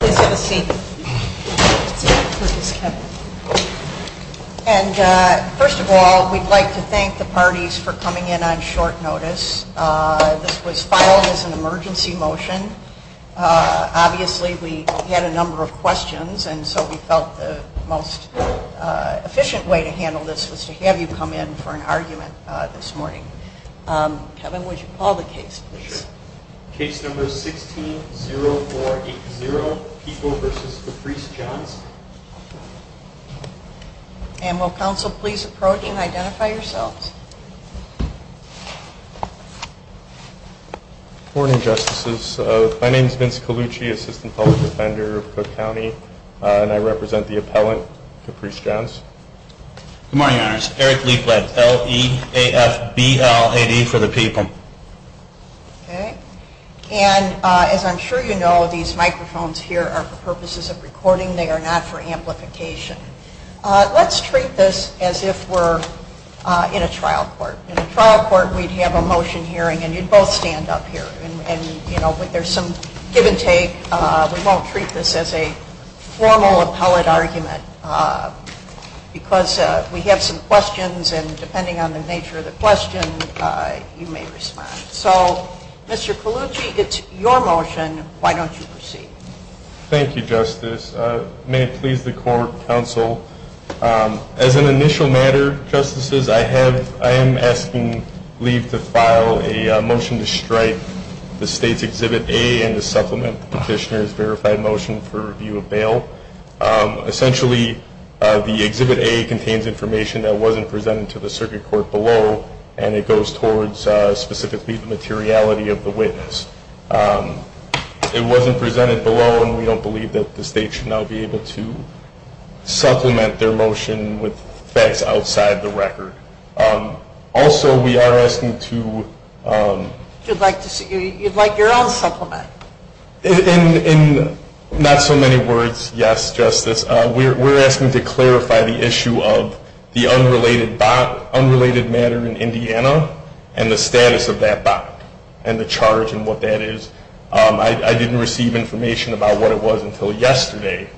Please have a seat. And first of all, we'd like to thank the parties for coming in on short notice. This was filed as an emergency motion. Obviously, we had a number of questions, and so we felt the most efficient way to handle this was to have you come in for an argument this morning. Kevin, would you call the case, please? Case number 16-0-4-8-0, People v. Caprice Johns. And will counsel please approach and identify yourselves? Good morning, Justices. My name is Vince Colucci, Assistant Public Defender of Cook County, and I represent the appellant, Caprice Johns. Good morning, Your Honors. Eric Liefblad, L-E-A-F-B-L-A-D for the People. Okay. And as I'm sure you know, these microphones here are for purposes of recording. They are not for amplification. Let's treat this as if we're in a trial court. In a trial court, we'd have a motion hearing, and you'd both stand up here. And, you know, there's some give and take. We won't treat this as a formal appellate argument. Because we have some questions, and depending on the nature of the question, you may respond. So, Mr. Colucci, it's your motion. Why don't you proceed? Thank you, Justice. May it please the court, counsel, as an initial matter, Justices, I am asking Lief to file a motion to strike the State's Exhibit A and to supplement the Petitioner's verified motion for review of bail. Essentially, the Exhibit A contains information that wasn't presented to the circuit court below, and it goes towards specifically the materiality of the witness. It wasn't presented below, and we don't believe that the State should now be able to supplement their motion with facts outside the record. Also, we are asking to… You'd like your own supplement? In not so many words, yes, Justice. We're asking to clarify the issue of the unrelated matter in Indiana and the status of that bot and the charge and what that is. I didn't receive information about what it was until yesterday.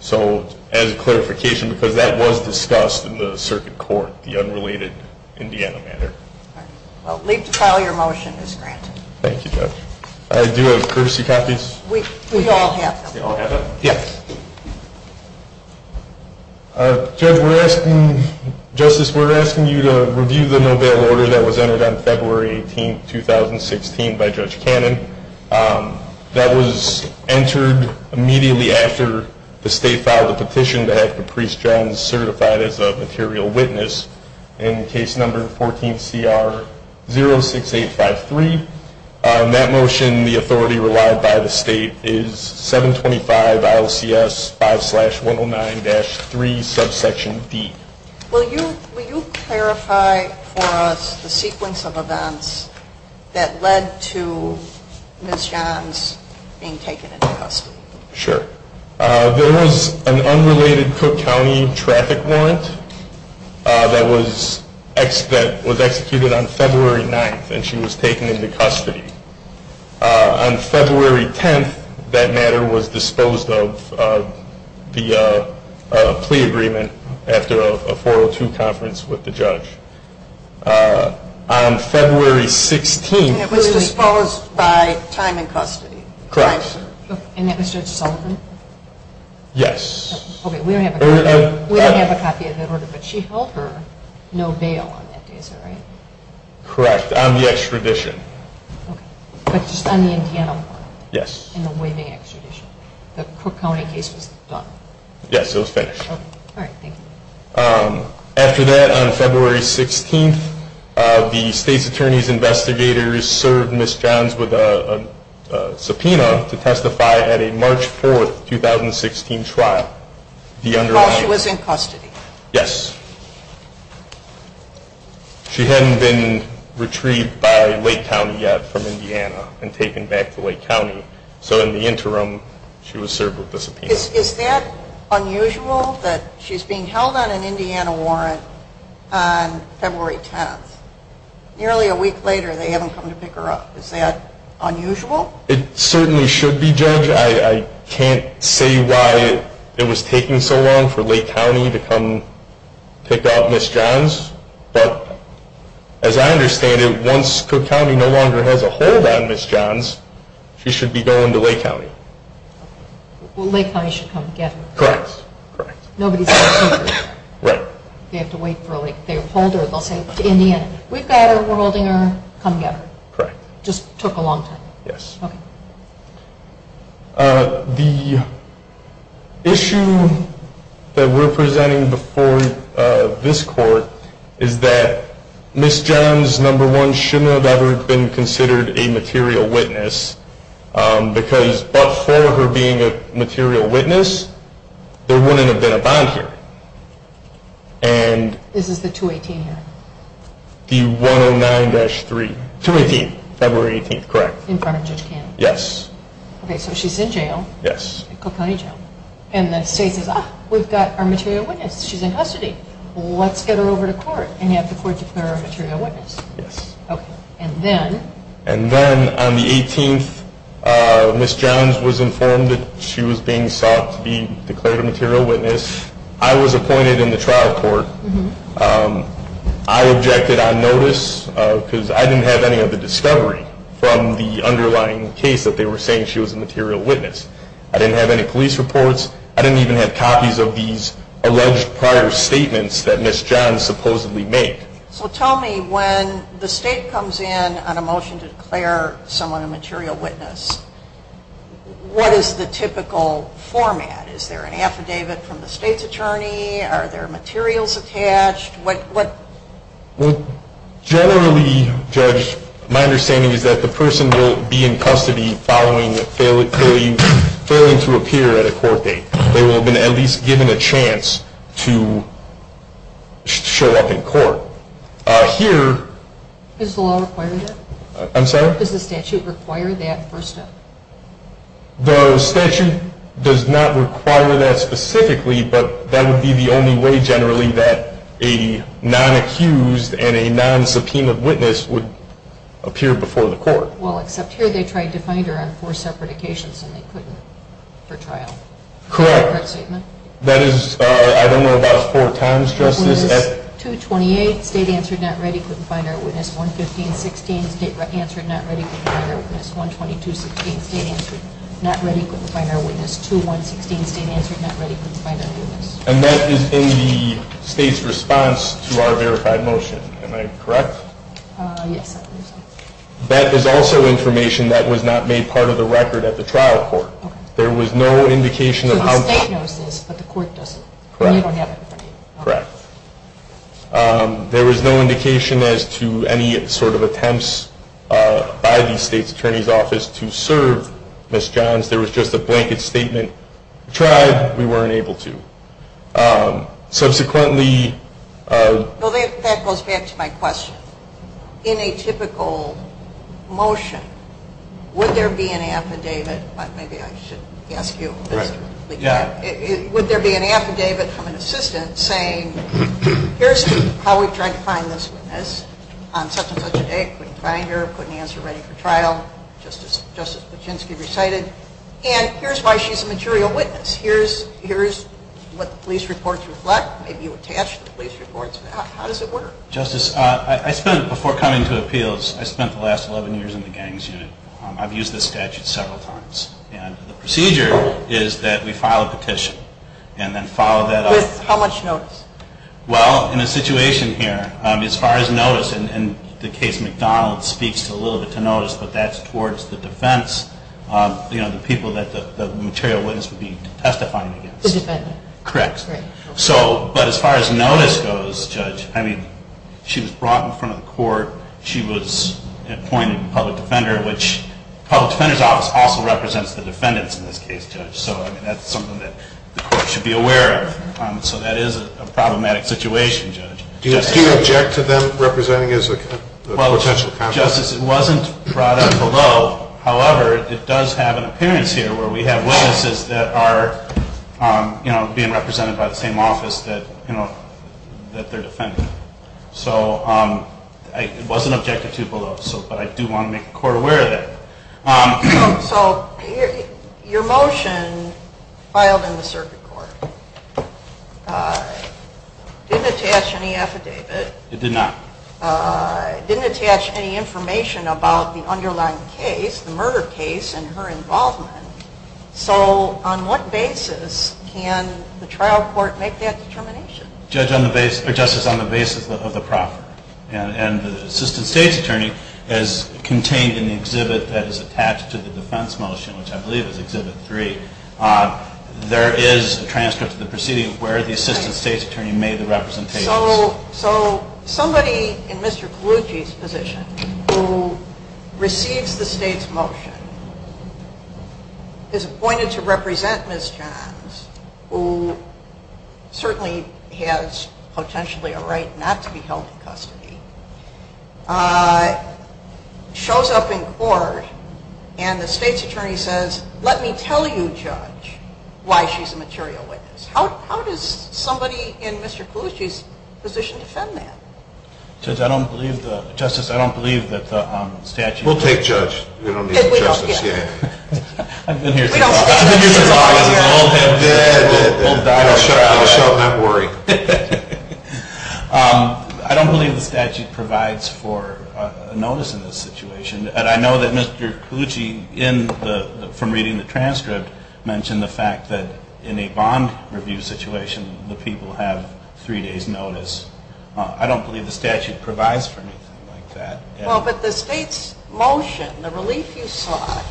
So, as a clarification, because that was discussed in the circuit court, the unrelated Indiana matter. All right. Well, Lief to file your motion is granted. Thank you, Judge. I do have courtesy copies. We all have them. We all have them? Yes. Judge, we're asking… Justice, we're asking you to review the no bail order that was entered on February 18, 2016 by Judge Cannon. That was entered immediately after the State filed a petition to have Caprice Jones certified as a material witness in case number 14CR06853. That motion, the authority relied by the State, is 725 ILCS 5-109-3, subsection D. Will you clarify for us the sequence of events that led to Ms. Jones being taken into custody? Sure. There was an unrelated Cook County traffic warrant that was executed on February 9th, and she was taken into custody. On February 10th, that matter was disposed of via a plea agreement after a 402 conference with the judge. On February 16th… And it was disposed by time in custody. Correct. And that was Judge Sullivan? Yes. Okay, we don't have a copy of that order, but she held her no bail on that day, is that right? Correct, on the extradition. Okay, but just on the Indiana warrant? Yes. And the waiving extradition? The Cook County case was done? Yes, it was finished. Okay, all right, thank you. After that, on February 16th, the State's Attorney's investigators served Ms. Jones with a subpoena to testify at a March 4th, 2016 trial. While she was in custody? Yes. She hadn't been retrieved by Lake County yet from Indiana and taken back to Lake County, so in the interim, she was served with a subpoena. Is that unusual that she's being held on an Indiana warrant on February 10th? Nearly a week later, they haven't come to pick her up. Is that unusual? It certainly should be, Judge. I can't say why it was taking so long for Lake County to come pick up Ms. Jones. But as I understand it, once Cook County no longer has a hold on Ms. Jones, she should be going to Lake County. Well, Lake County should come get her. Correct. Nobody's going to see her. Right. They have to wait for, like, they'll hold her, they'll say, Indiana, we've got her, we're holding her, come get her. Correct. Just took a long time. Yes. Okay. The issue that we're presenting before this court is that Ms. Jones, number one, shouldn't have ever been considered a material witness, because but for her being a material witness, there wouldn't have been a bond hearing. This is the 218 here? The 109-3, 218, February 18th, correct. In front of Judge Cannon? Yes. Okay, so she's in jail. Yes. Cook County Jail. And the state says, ah, we've got our material witness. She's in custody. Let's get her over to court and have the court declare her a material witness. Yes. Okay. And then? And then on the 18th, Ms. Jones was informed that she was being sought to be declared a material witness. I was appointed in the trial court. I objected on notice because I didn't have any of the discovery from the underlying case that they were saying she was a material witness. I didn't have any police reports. I didn't even have copies of these alleged prior statements that Ms. Jones supposedly made. So tell me, when the state comes in on a motion to declare someone a material witness, what is the typical format? Is there an affidavit from the state's attorney? Are there materials attached? What? Well, generally, Judge, my understanding is that the person will be in custody following a failing to appear at a court date. They will have been at least given a chance to show up in court. Here. Does the law require that? I'm sorry? Does the statute require that first step? The statute does not require that specifically, but that would be the only way, generally, that a non-accused and a non-subpoena witness would appear before the court. Well, except here they tried to find her on four separate occasions and they couldn't for trial. Correct. That is, I don't know about four times, Justice. 2-28, state answered, not ready, couldn't find her, witness. 1-15-16, state answered, not ready, couldn't find her, witness. 1-22-16, state answered, not ready, couldn't find her, witness. 2-1-16, state answered, not ready, couldn't find her, witness. And that is in the state's response to our verified motion. Am I correct? Yes, I believe so. That is also information that was not made part of the record at the trial court. There was no indication of how. So the state knows this, but the court doesn't. Correct. And you don't have it with you. Correct. There was no indication as to any sort of attempts by the state's attorney's office to serve Ms. Johns. There was just a blanket statement. We tried. We weren't able to. Subsequently. Well, that goes back to my question. In a typical motion, would there be an affidavit? Maybe I should ask you. Yeah. Would there be an affidavit from an assistant saying, here's how we've tried to find this witness on such and such a date, couldn't find her, couldn't answer, ready for trial, just as Justice Buczynski recited. And here's why she's a material witness. Here's what the police reports reflect. Maybe you attached the police reports. How does it work? Justice, I spent, before coming to appeals, I spent the last 11 years in the gangs unit. I've used this statute several times. And the procedure is that we file a petition. And then follow that up. With how much notice? Well, in a situation here, as far as notice, and the case McDonald speaks a little bit to notice, but that's towards the defense, you know, the people that the material witness would be testifying against. The defendant. Correct. So, but as far as notice goes, Judge, I mean, she was brought in front of the court. She was appointed public defender, which public defender's office also represents the defendants in this case, Judge. So, I mean, that's something that the court should be aware of. So that is a problematic situation, Judge. Do you object to them representing as a potential contact? Justice, it wasn't brought up below. However, it does have an appearance here where we have witnesses that are, you know, being represented by the same office that, you know, that they're defending. So, it wasn't objected to below. But I do want to make the court aware of that. So, your motion filed in the circuit court didn't attach any affidavit. It did not. It didn't attach any information about the underlying case, the murder case, and her involvement. So, on what basis can the trial court make that determination? Justice, on the basis of the proffer. And the assistant state's attorney is contained in the exhibit that is attached to the defense motion, which I believe is exhibit three. There is a transcript of the proceeding where the assistant state's attorney made the representations. So, somebody in Mr. Colucci's position who receives the state's motion is appointed to represent Ms. Johns, who certainly has potentially a right not to be held in custody, shows up in court, and the state's attorney says, let me tell you, Judge, why she's a material witness. How does somebody in Mr. Colucci's position defend that? Judge, I don't believe the – Justice, I don't believe that the statute – We'll take Judge. We don't need the justice, yeah. We don't care. We don't care. We don't care. We don't care. We don't care. We don't care. I don't show up in that worry. I don't believe the statute provides for a notice in this situation. And I know that Mr. Colucci, from reading the transcript, mentioned the fact that in a bond review situation, the people have three days' notice. I don't believe the statute provides for anything like that. Well, but the state's motion, the relief you saw,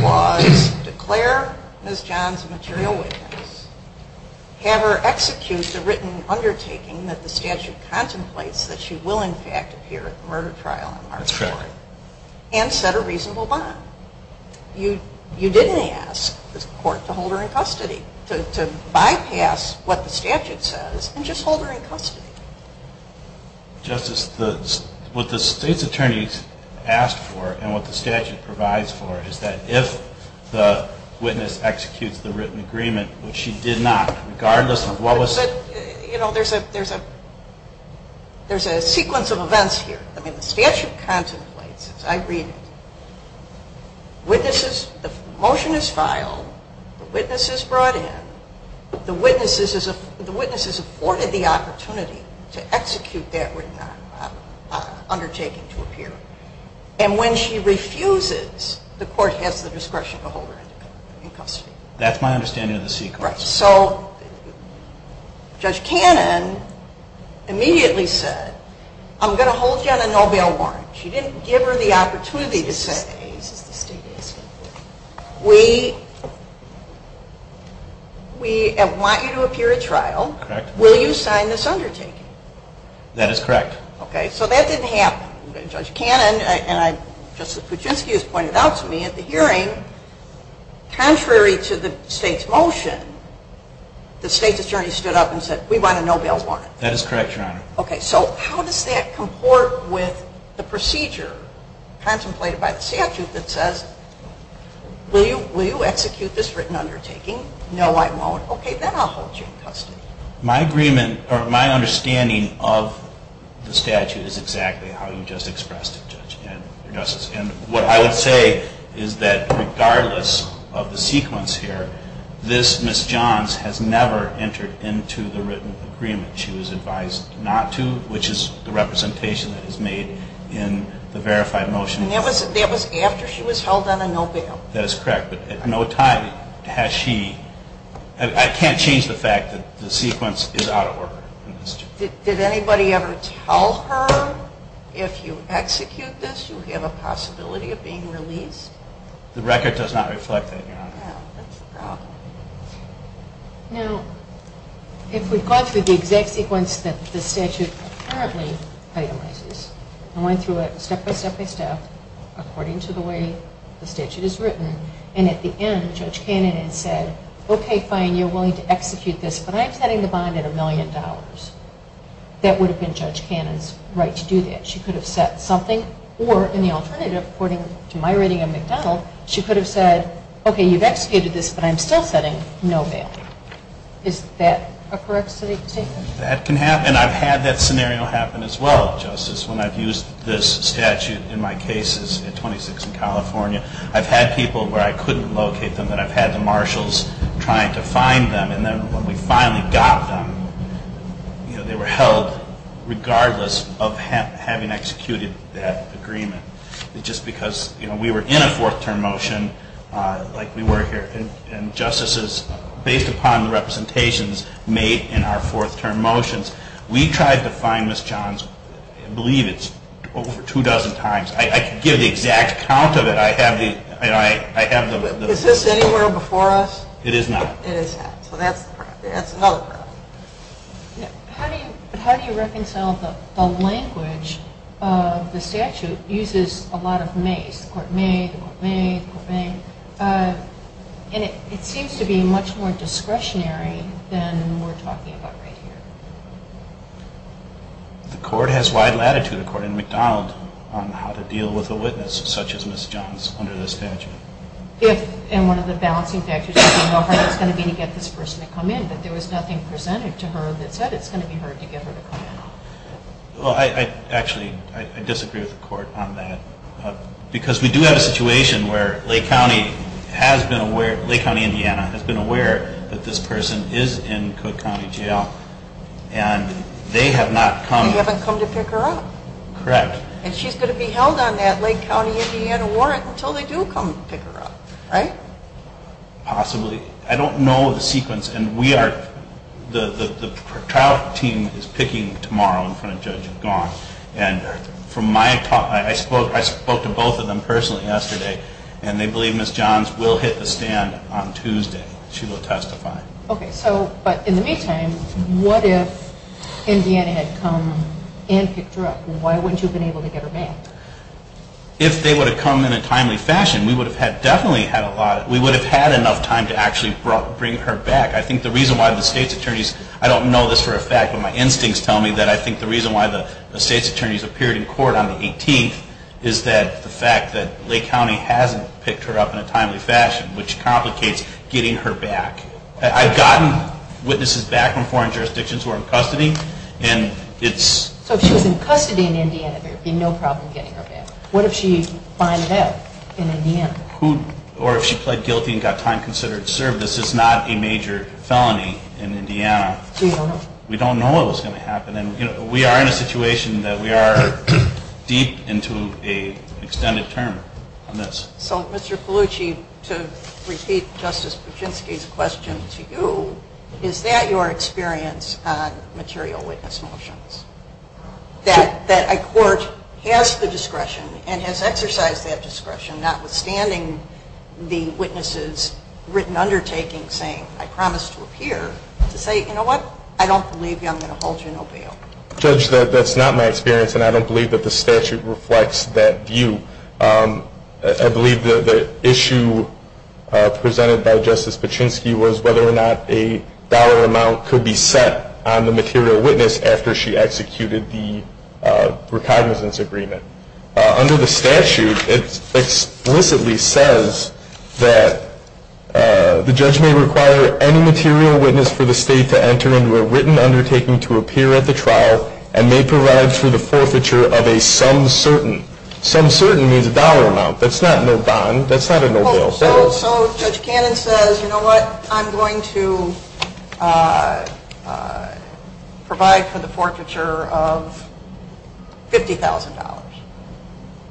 was declare Ms. Johns a material witness, have her execute the written undertaking that the statute contemplates that she will, in fact, appear at the murder trial on March 4th. That's correct. And set a reasonable bond. You didn't ask the court to hold her in custody, to bypass what the statute says and just hold her in custody. Justice, what the state's attorneys asked for and what the statute provides for is that if the witness executes the written agreement, which she did not, regardless of what was – But, you know, there's a sequence of events here. I mean, the statute contemplates, as I read it, witnesses – the motion is filed, the witness is brought in, the witness is afforded the opportunity to execute that written undertaking to appear. And when she refuses, the court has the discretion to hold her in custody. That's my understanding of the sequence. Right. So Judge Cannon immediately said, I'm going to hold you on a no bail warrant. She didn't give her the opportunity to say, we want you to appear at trial. Correct. Will you sign this undertaking? That is correct. Okay. So that didn't happen. Judge Cannon and Justice Kuczynski has pointed out to me at the hearing, contrary to the state's motion, the state's attorney stood up and said, we want a no bail warrant. That is correct, Your Honor. Okay. So how does that comport with the procedure contemplated by the statute that says, will you execute this written undertaking? No, I won't. Okay. Then I'll hold you in custody. My understanding of the statute is exactly how you just expressed it, Judge. And what I would say is that regardless of the sequence here, this Ms. Johns has never entered into the written agreement. She was advised not to, which is the representation that is made in the verified motion. And that was after she was held on a no bail. That is correct. But at no time has she, I can't change the fact that the sequence is out of order. Did anybody ever tell her if you execute this, you have a possibility of being released? The record does not reflect that, Your Honor. That's the problem. Now, if we've gone through the exact sequence that the statute currently itemizes and went through it step-by-step-by-step according to the way the statute is written and at the end Judge Cannon had said, okay, fine, you're willing to execute this, but I'm setting the bond at $1 million. That would have been Judge Cannon's right to do that. She could have set something or, in the alternative, according to my reading of McDonald, she could have said, okay, you've executed this, but I'm still setting no bail. Is that a correct statement? That can happen. And I've had that scenario happen as well, Justice, when I've used this statute in my cases at 26 and California. I've had people where I couldn't locate them, and I've had the marshals trying to find them, and then when we finally got them, they were held regardless of having executed that agreement. Just because we were in a fourth-term motion like we were here, and justices, based upon the representations made in our fourth-term motions, we tried to find Ms. Johns, I believe it's over two dozen times. I can give the exact count of it. Is this anywhere before us? It is not. It is not. So that's another problem. How do you reconcile the language of the statute uses a lot of mays, the court may, the court may, the court may, and it seems to be much more discretionary than we're talking about right here. The court has wide latitude, according to McDonald, on how to deal with a witness such as Ms. Johns under this statute. If, in one of the balancing factors, you know how hard it's going to be to get this person to come in, but there was nothing presented to her that said it's going to be hard to get her to come in. Well, I actually disagree with the court on that because we do have a situation where Lake County has been aware, Lake County, Indiana, has been aware that this person is in Cook County Jail, and they have not come. They haven't come to pick her up. Correct. And she's going to be held on that Lake County, Indiana, warrant until they do come pick her up, right? Possibly. I don't know the sequence, and we are, the trial team is picking tomorrow in front of Judge Gaunt, and from my talk, I spoke to both of them personally yesterday, and they believe Ms. Johns will hit the stand on Tuesday. She will testify. Okay. So, but in the meantime, what if Indiana had come and picked her up? Why wouldn't you have been able to get her back? If they would have come in a timely fashion, we would have had definitely had a lot, we would have had enough time to actually bring her back. I think the reason why the state's attorneys, I don't know this for a fact, but my instincts tell me that I think the reason why the state's attorneys appeared in court on the 18th is that the fact that Lake County hasn't picked her up in a timely fashion, which complicates getting her back. I've gotten witnesses back from foreign jurisdictions who are in custody, and it's... So if she was in custody in Indiana, there would be no problem getting her back. What if she fined it out in Indiana? Or if she pled guilty and got time considered to serve, this is not a major felony in Indiana. We don't know what's going to happen, and we are in a situation that we are deep into an extended term on this. So, Mr. Polucci, to repeat Justice Buczynski's question to you, is that your experience on material witness motions? That a court has the discretion and has exercised that discretion, notwithstanding the witness's written undertaking saying, I promise to appear, to say, you know what? I don't believe you. I'm going to hold you no bail. Judge, that's not my experience, and I don't believe that the statute reflects that view. I believe that the issue presented by Justice Buczynski was whether or not a dollar amount could be set on the material witness after she executed the recognizance agreement. Under the statute, it explicitly says that the judge may require any material witness for the state to enter into a written undertaking to appear at the trial and may provide for the forfeiture of a some certain. Some certain means a dollar amount. That's not no bond. That's not a no bail. So Judge Cannon says, you know what? I'm going to provide for the forfeiture of $50,000.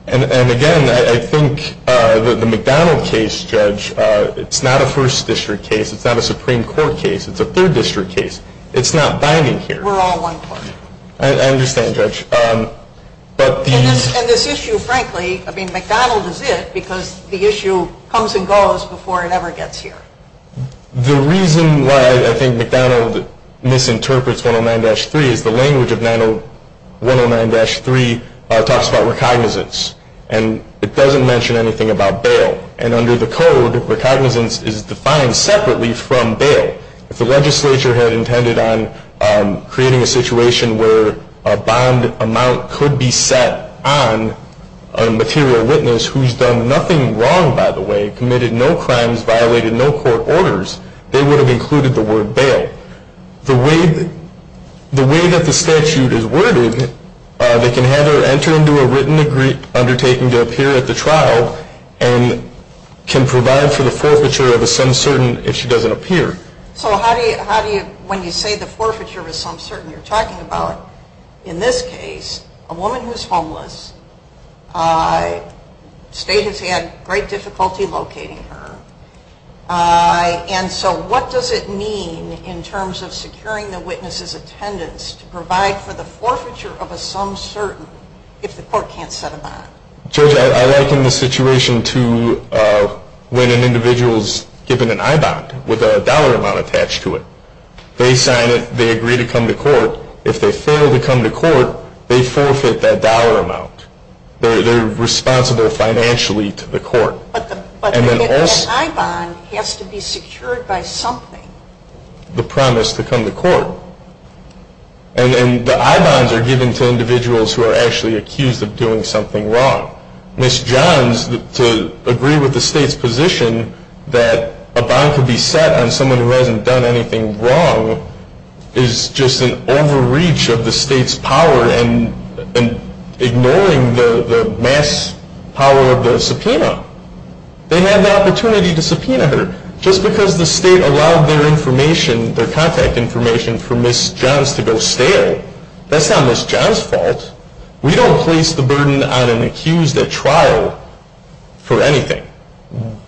And again, I think the McDonald case, Judge, it's not a First District case. It's not a Supreme Court case. It's a Third District case. It's not binding here. We're all one court. I understand, Judge. And this issue, frankly, I mean, McDonald is it because the issue comes and goes before it ever gets here. The reason why I think McDonald misinterprets 109-3 is the language of 109-3 talks about recognizance, and it doesn't mention anything about bail. And under the code, recognizance is defined separately from bail. If the legislature had intended on creating a situation where a bond amount could be set on a material witness who's done nothing wrong, by the way, committed no crimes, violated no court orders, they would have included the word bail. The way that the statute is worded, they can have her enter into a written undertaking to appear at the trial and can provide for the forfeiture of a sum certain if she doesn't appear. So how do you, when you say the forfeiture of a sum certain, you're talking about, in this case, a woman who's homeless. State has had great difficulty locating her. And so what does it mean in terms of securing the witness's attendance to provide for the forfeiture of a sum certain if the court can't set a bond? Judge, I liken the situation to when an individual is given an I-bond with a dollar amount attached to it. They sign it. They agree to come to court. If they fail to come to court, they forfeit that dollar amount. They're responsible financially to the court. But an I-bond has to be secured by something. The promise to come to court. And the I-bonds are given to individuals who are actually accused of doing something wrong. Ms. Johns, to agree with the state's position that a bond could be set on someone who hasn't done anything wrong, is just an overreach of the state's power and ignoring the mass power of the subpoena. They had the opportunity to subpoena her. Just because the state allowed their information, their contact information, for Ms. Johns to go stale, that's not Ms. Johns' fault. We don't place the burden on an accused at trial for anything.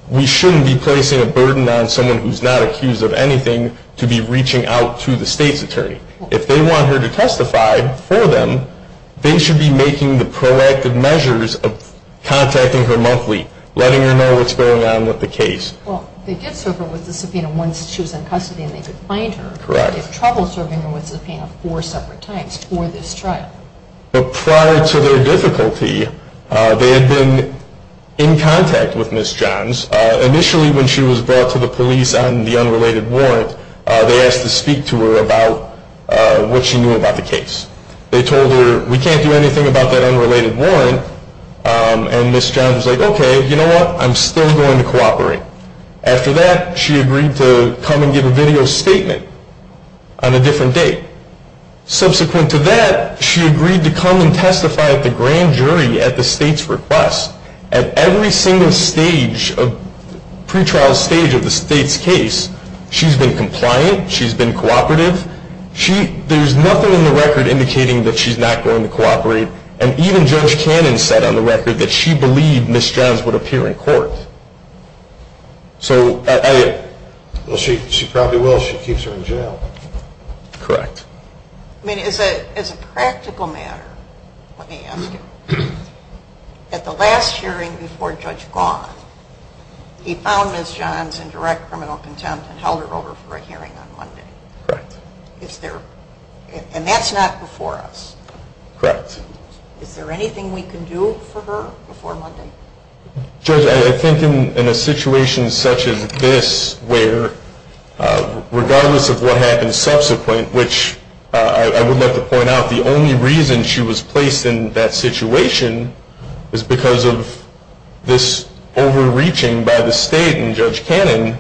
We shouldn't be placing a burden on someone who's not accused of anything to be reaching out to the state's attorney. If they want her to testify for them, they should be making the proactive measures of contacting her monthly, letting her know what's going on with the case. Well, they did serve her with the subpoena once she was in custody and they could find her. Correct. They had trouble serving her with the subpoena four separate times for this trial. But prior to their difficulty, they had been in contact with Ms. Johns. Initially, when she was brought to the police on the unrelated warrant, they asked to speak to her about what she knew about the case. They told her, we can't do anything about that unrelated warrant. And Ms. Johns was like, okay, you know what? I'm still going to cooperate. After that, she agreed to come and give a video statement on a different date. Subsequent to that, she agreed to come and testify at the grand jury at the state's request. At every single pre-trial stage of the state's case, she's been compliant, she's been cooperative. There's nothing in the record indicating that she's not going to cooperate. And even Judge Cannon said on the record that she believed Ms. Johns would appear in court. Well, she probably will. She keeps her in jail. Correct. I mean, as a practical matter, let me ask you, at the last hearing before Judge Gauth, he found Ms. Johns in direct criminal contempt and held her over for a hearing on Monday. Correct. And that's not before us. Correct. Is there anything we can do for her before Monday? Judge, I think in a situation such as this where, regardless of what happens subsequent, which I would like to point out, the only reason she was placed in that situation is because of this overreaching by the state and Judge Cannon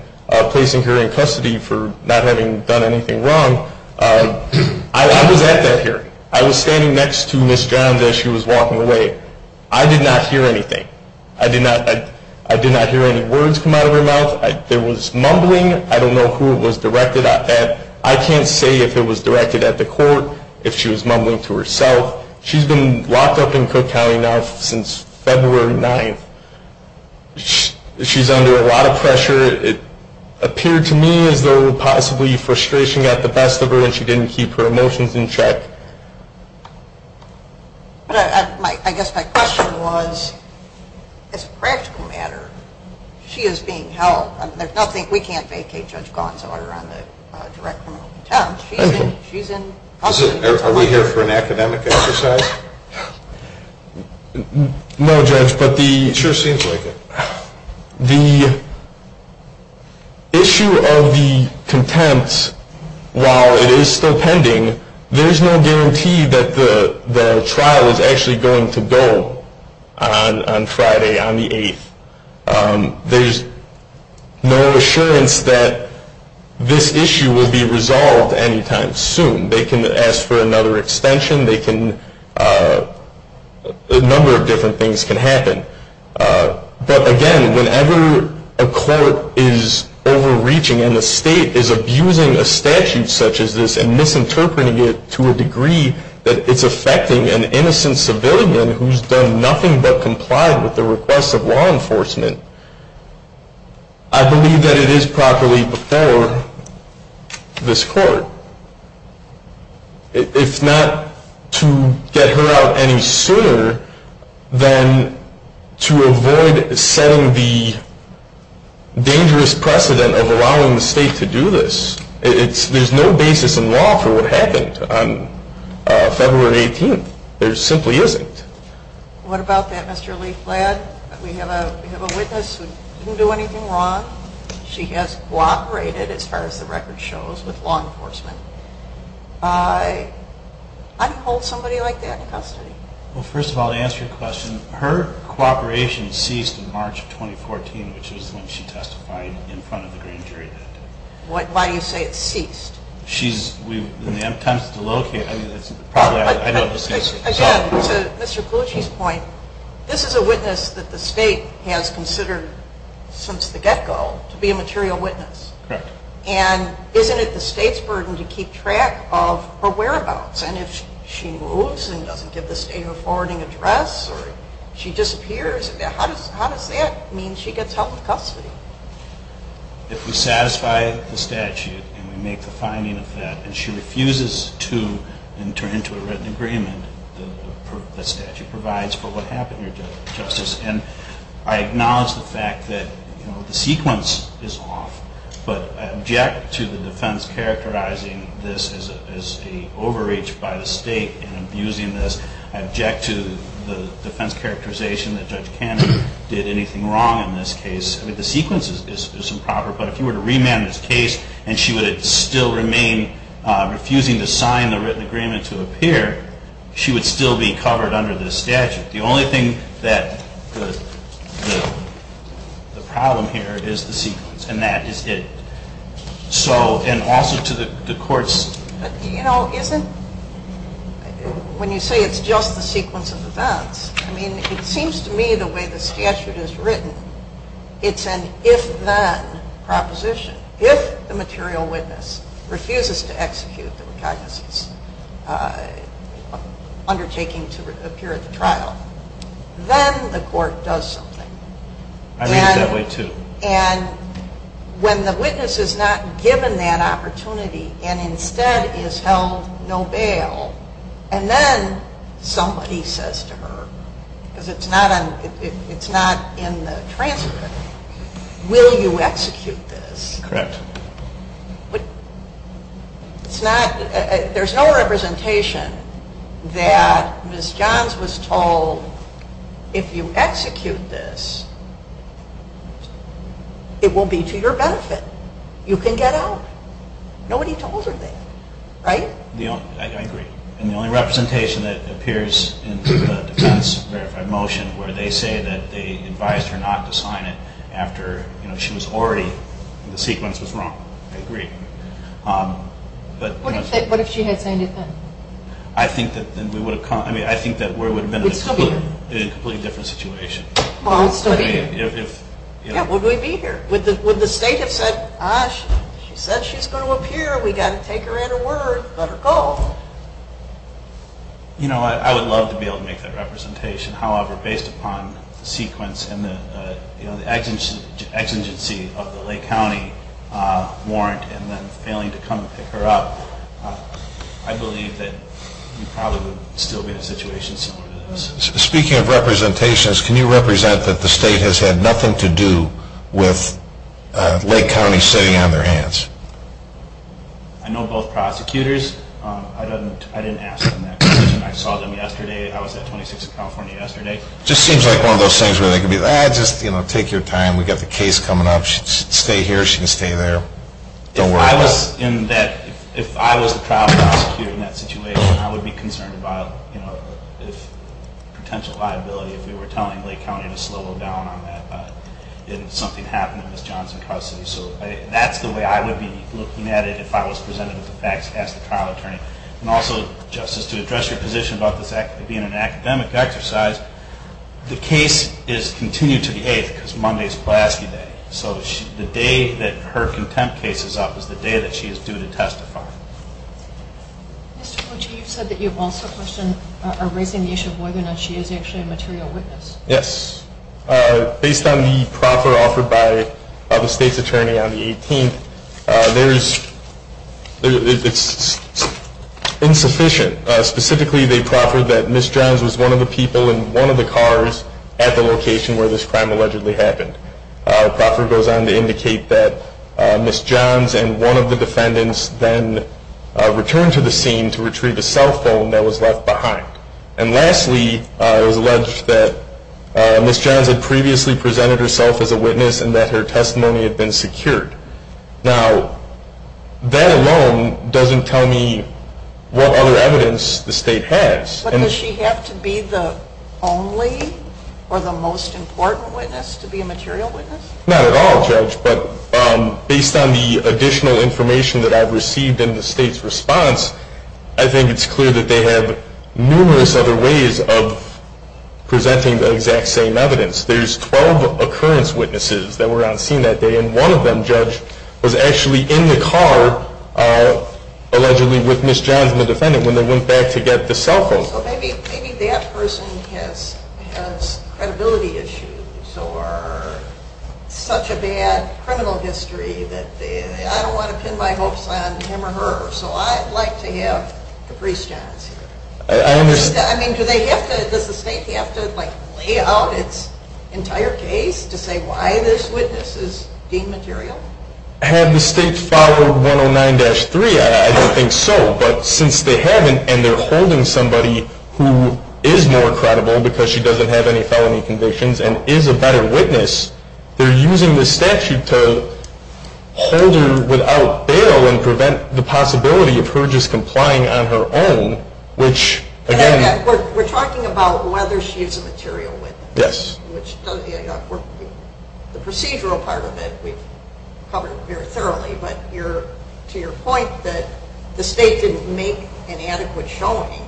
placing her in custody for not having done anything wrong. I was at that hearing. I was standing next to Ms. Johns as she was walking away. I did not hear anything. I did not hear any words come out of her mouth. There was mumbling. I don't know who it was directed at. I can't say if it was directed at the court, if she was mumbling to herself. She's been locked up in Cook County now since February 9th. She's under a lot of pressure. It appeared to me as though possibly frustration got the best of her and she didn't keep her emotions in check. I guess my question was, as a practical matter, she is being held. We can't vacate Judge Gonsalor on the direct criminal contempt. She's in custody. Are we here for an academic exercise? No, Judge. It sure seems like it. The issue of the contempt, while it is still pending, there's no guarantee that the trial is actually going to go on Friday, on the 8th. There's no assurance that this issue will be resolved any time soon. They can ask for another extension. A number of different things can happen. But, again, whenever a court is overreaching and the state is abusing a statute such as this and misinterpreting it to a degree that it's affecting an innocent civilian who's done nothing but comply with the requests of law enforcement, I believe that it is properly before this court. If not to get her out any sooner, then to avoid setting the dangerous precedent of allowing the state to do this. There's no basis in law for what happened on February 18th. There simply isn't. What about that, Mr. Lieflad? We have a witness who didn't do anything wrong. She has cooperated, as far as the record shows, with law enforcement. I don't hold somebody like that in custody. Well, first of all, to answer your question, her cooperation ceased in March of 2014, which is when she testified in front of the grand jury that day. Why do you say it ceased? She's, in the attempts to locate, I mean, it's probably, I don't know. Again, to Mr. Colucci's point, this is a witness that the state has considered since the get-go to be a material witness. Correct. And isn't it the state's burden to keep track of her whereabouts? And if she moves and doesn't give the state her forwarding address or she disappears, how does that mean she gets held in custody? If we satisfy the statute and we make the finding of that and she refuses to enter into a written agreement, the statute provides for what happened, Your Justice. And I acknowledge the fact that the sequence is off, but I object to the defense characterizing this as an overreach by the state in abusing this. I object to the defense characterization that Judge Cannon did anything wrong in this case. I mean, the sequence is improper. But if you were to remand this case and she would still remain refusing to sign the written agreement to appear, she would still be covered under this statute. The only thing that the problem here is the sequence, and that is it. So, and also to the court's... You know, isn't, when you say it's just the sequence of events, I mean, it seems to me the way the statute is written, it's an if-then proposition. If the material witness refuses to execute the recognizance undertaking to appear at the trial, then the court does something. I read it that way, too. And when the witness is not given that opportunity and instead is held no bail, and then somebody says to her, because it's not in the transcript, will you execute this? Correct. It's not, there's no representation that Ms. Johns was told, if you execute this, it will be to your benefit. You can get out. Nobody told her that, right? I agree. And the only representation that appears in the defense verified motion, where they say that they advised her not to sign it after she was already, the sequence was wrong. I agree. What if she had signed it then? I think that we would have come, I mean, I think that we would have been in a completely different situation. Well, it's still here. Yeah, would we be here? Would the state have said, ah, she said she's going to appear, we've got to take her in a word, let her go? You know, I would love to be able to make that representation. However, based upon the sequence and the exigency of the Lake County warrant and then failing to come pick her up, I believe that we probably would still be in a situation similar to this. Speaking of representations, can you represent that the state has had nothing to do with Lake County sitting on their hands? I know both prosecutors. I didn't ask them that question. I saw them yesterday. I was at 26th California yesterday. It just seems like one of those things where they can be, ah, just take your time. We've got the case coming up. Stay here. She can stay there. Don't worry about it. If I was the trial prosecutor in that situation, I would be concerned about, you know, potential liability if we were telling Lake County to slow down on that if something happened in Ms. Johnson's custody. So that's the way I would be looking at it if I was presented with the facts as the trial attorney. And also, Justice, to address your position about this being an academic exercise, the case is continued to the 8th because Monday is Pulaski Day. So the day that her contempt case is up is the day that she is due to testify. Mr. Kochi, you said that you also question raising the issue of whether or not she is actually a material witness. Yes. Based on the proffer offered by the state's attorney on the 18th, there is, it's insufficient. Specifically, they proffered that Ms. Johns was one of the people in one of the cars at the location where this crime allegedly happened. The proffer goes on to indicate that Ms. Johns and one of the defendants then returned to the scene to retrieve a cell phone that was left behind. And lastly, it was alleged that Ms. Johns had previously presented herself as a witness and that her testimony had been secured. Now, that alone doesn't tell me what other evidence the state has. But does she have to be the only or the most important witness to be a material witness? Not at all, Judge. But based on the additional information that I've received in the state's response, I think it's clear that they have numerous other ways of presenting the exact same evidence. There's 12 occurrence witnesses that were on scene that day, and one of them, Judge, was actually in the car allegedly with Ms. Johns and the defendant when they went back to get the cell phone. So maybe that person has credibility issues or such a bad criminal history that I don't want to pin my hopes on him or her. So I'd like to have Caprice Johns here. I understand. I mean, does the state have to lay out its entire case to say why this witness is deemed material? Had the state followed 109-3, I don't think so. But since they haven't and they're holding somebody who is more credible because she doesn't have any felony convictions and is a better witness, they're using the statute to hold her without bail and prevent the possibility of her just complying on her own, which again... We're talking about whether she's a material witness. Yes. The procedural part of it we've covered very thoroughly, but to your point that the state didn't make an adequate showing,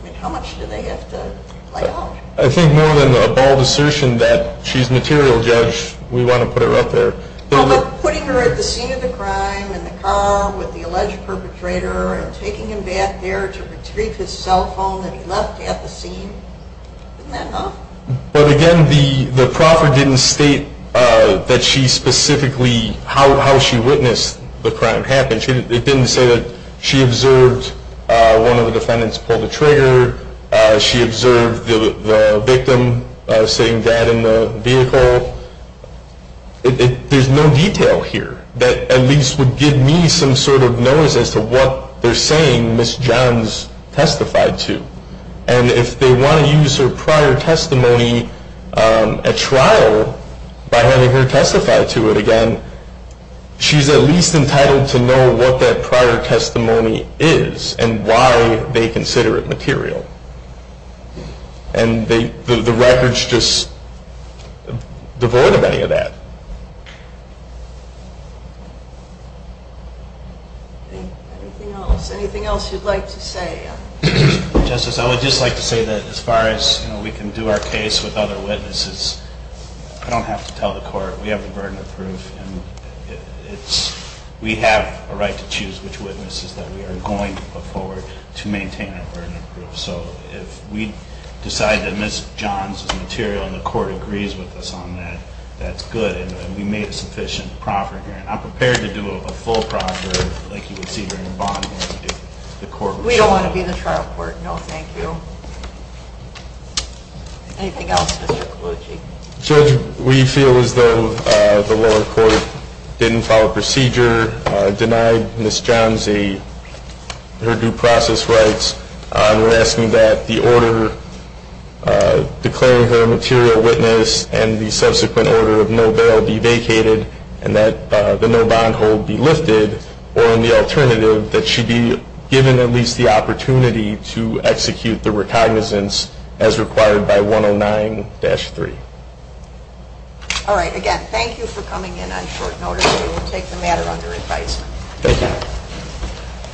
I mean, how much do they have to lay out? I think more than a bald assertion that she's a material judge, we want to put her out there. How about putting her at the scene of the crime in the car with the alleged perpetrator and taking him back there to retrieve his cell phone that he left at the scene? Isn't that enough? But again, the proffer didn't state that she specifically, how she witnessed the crime happen. It didn't say that she observed one of the defendants pull the trigger, she observed the victim sitting dead in the vehicle. There's no detail here that at least would give me some sort of notice as to what they're saying Ms. Johns testified to. And if they want to use her prior testimony at trial by having her testify to it again, she's at least entitled to know what that prior testimony is and why they consider it material. And the record's just devoid of any of that. Anything else you'd like to say? Justice, I would just like to say that as far as we can do our case with other witnesses, I don't have to tell the court. We have the burden of proof and we have a right to choose which witnesses that we are going to put forward to maintain our burden of proof. So if we decide that Ms. Johns is material and the court agrees with us on that, that's good and we made a sufficient proffer here. And I'm prepared to do a full proffer like you would see during a bond hearing. We don't want to be the trial court. No, thank you. Anything else, Mr. Colucci? Judge, we feel as though the lower court didn't follow procedure, denied Ms. Johns her due process rights. We're asking that the order declaring her a material witness and the subsequent order of no bail be vacated and that the no bond hold be lifted or in the alternative that she be given at least the opportunity to execute the recognizance as required by 109-3. All right. Again, thank you for coming in on short notice. We will take the matter under advisement. Thank you.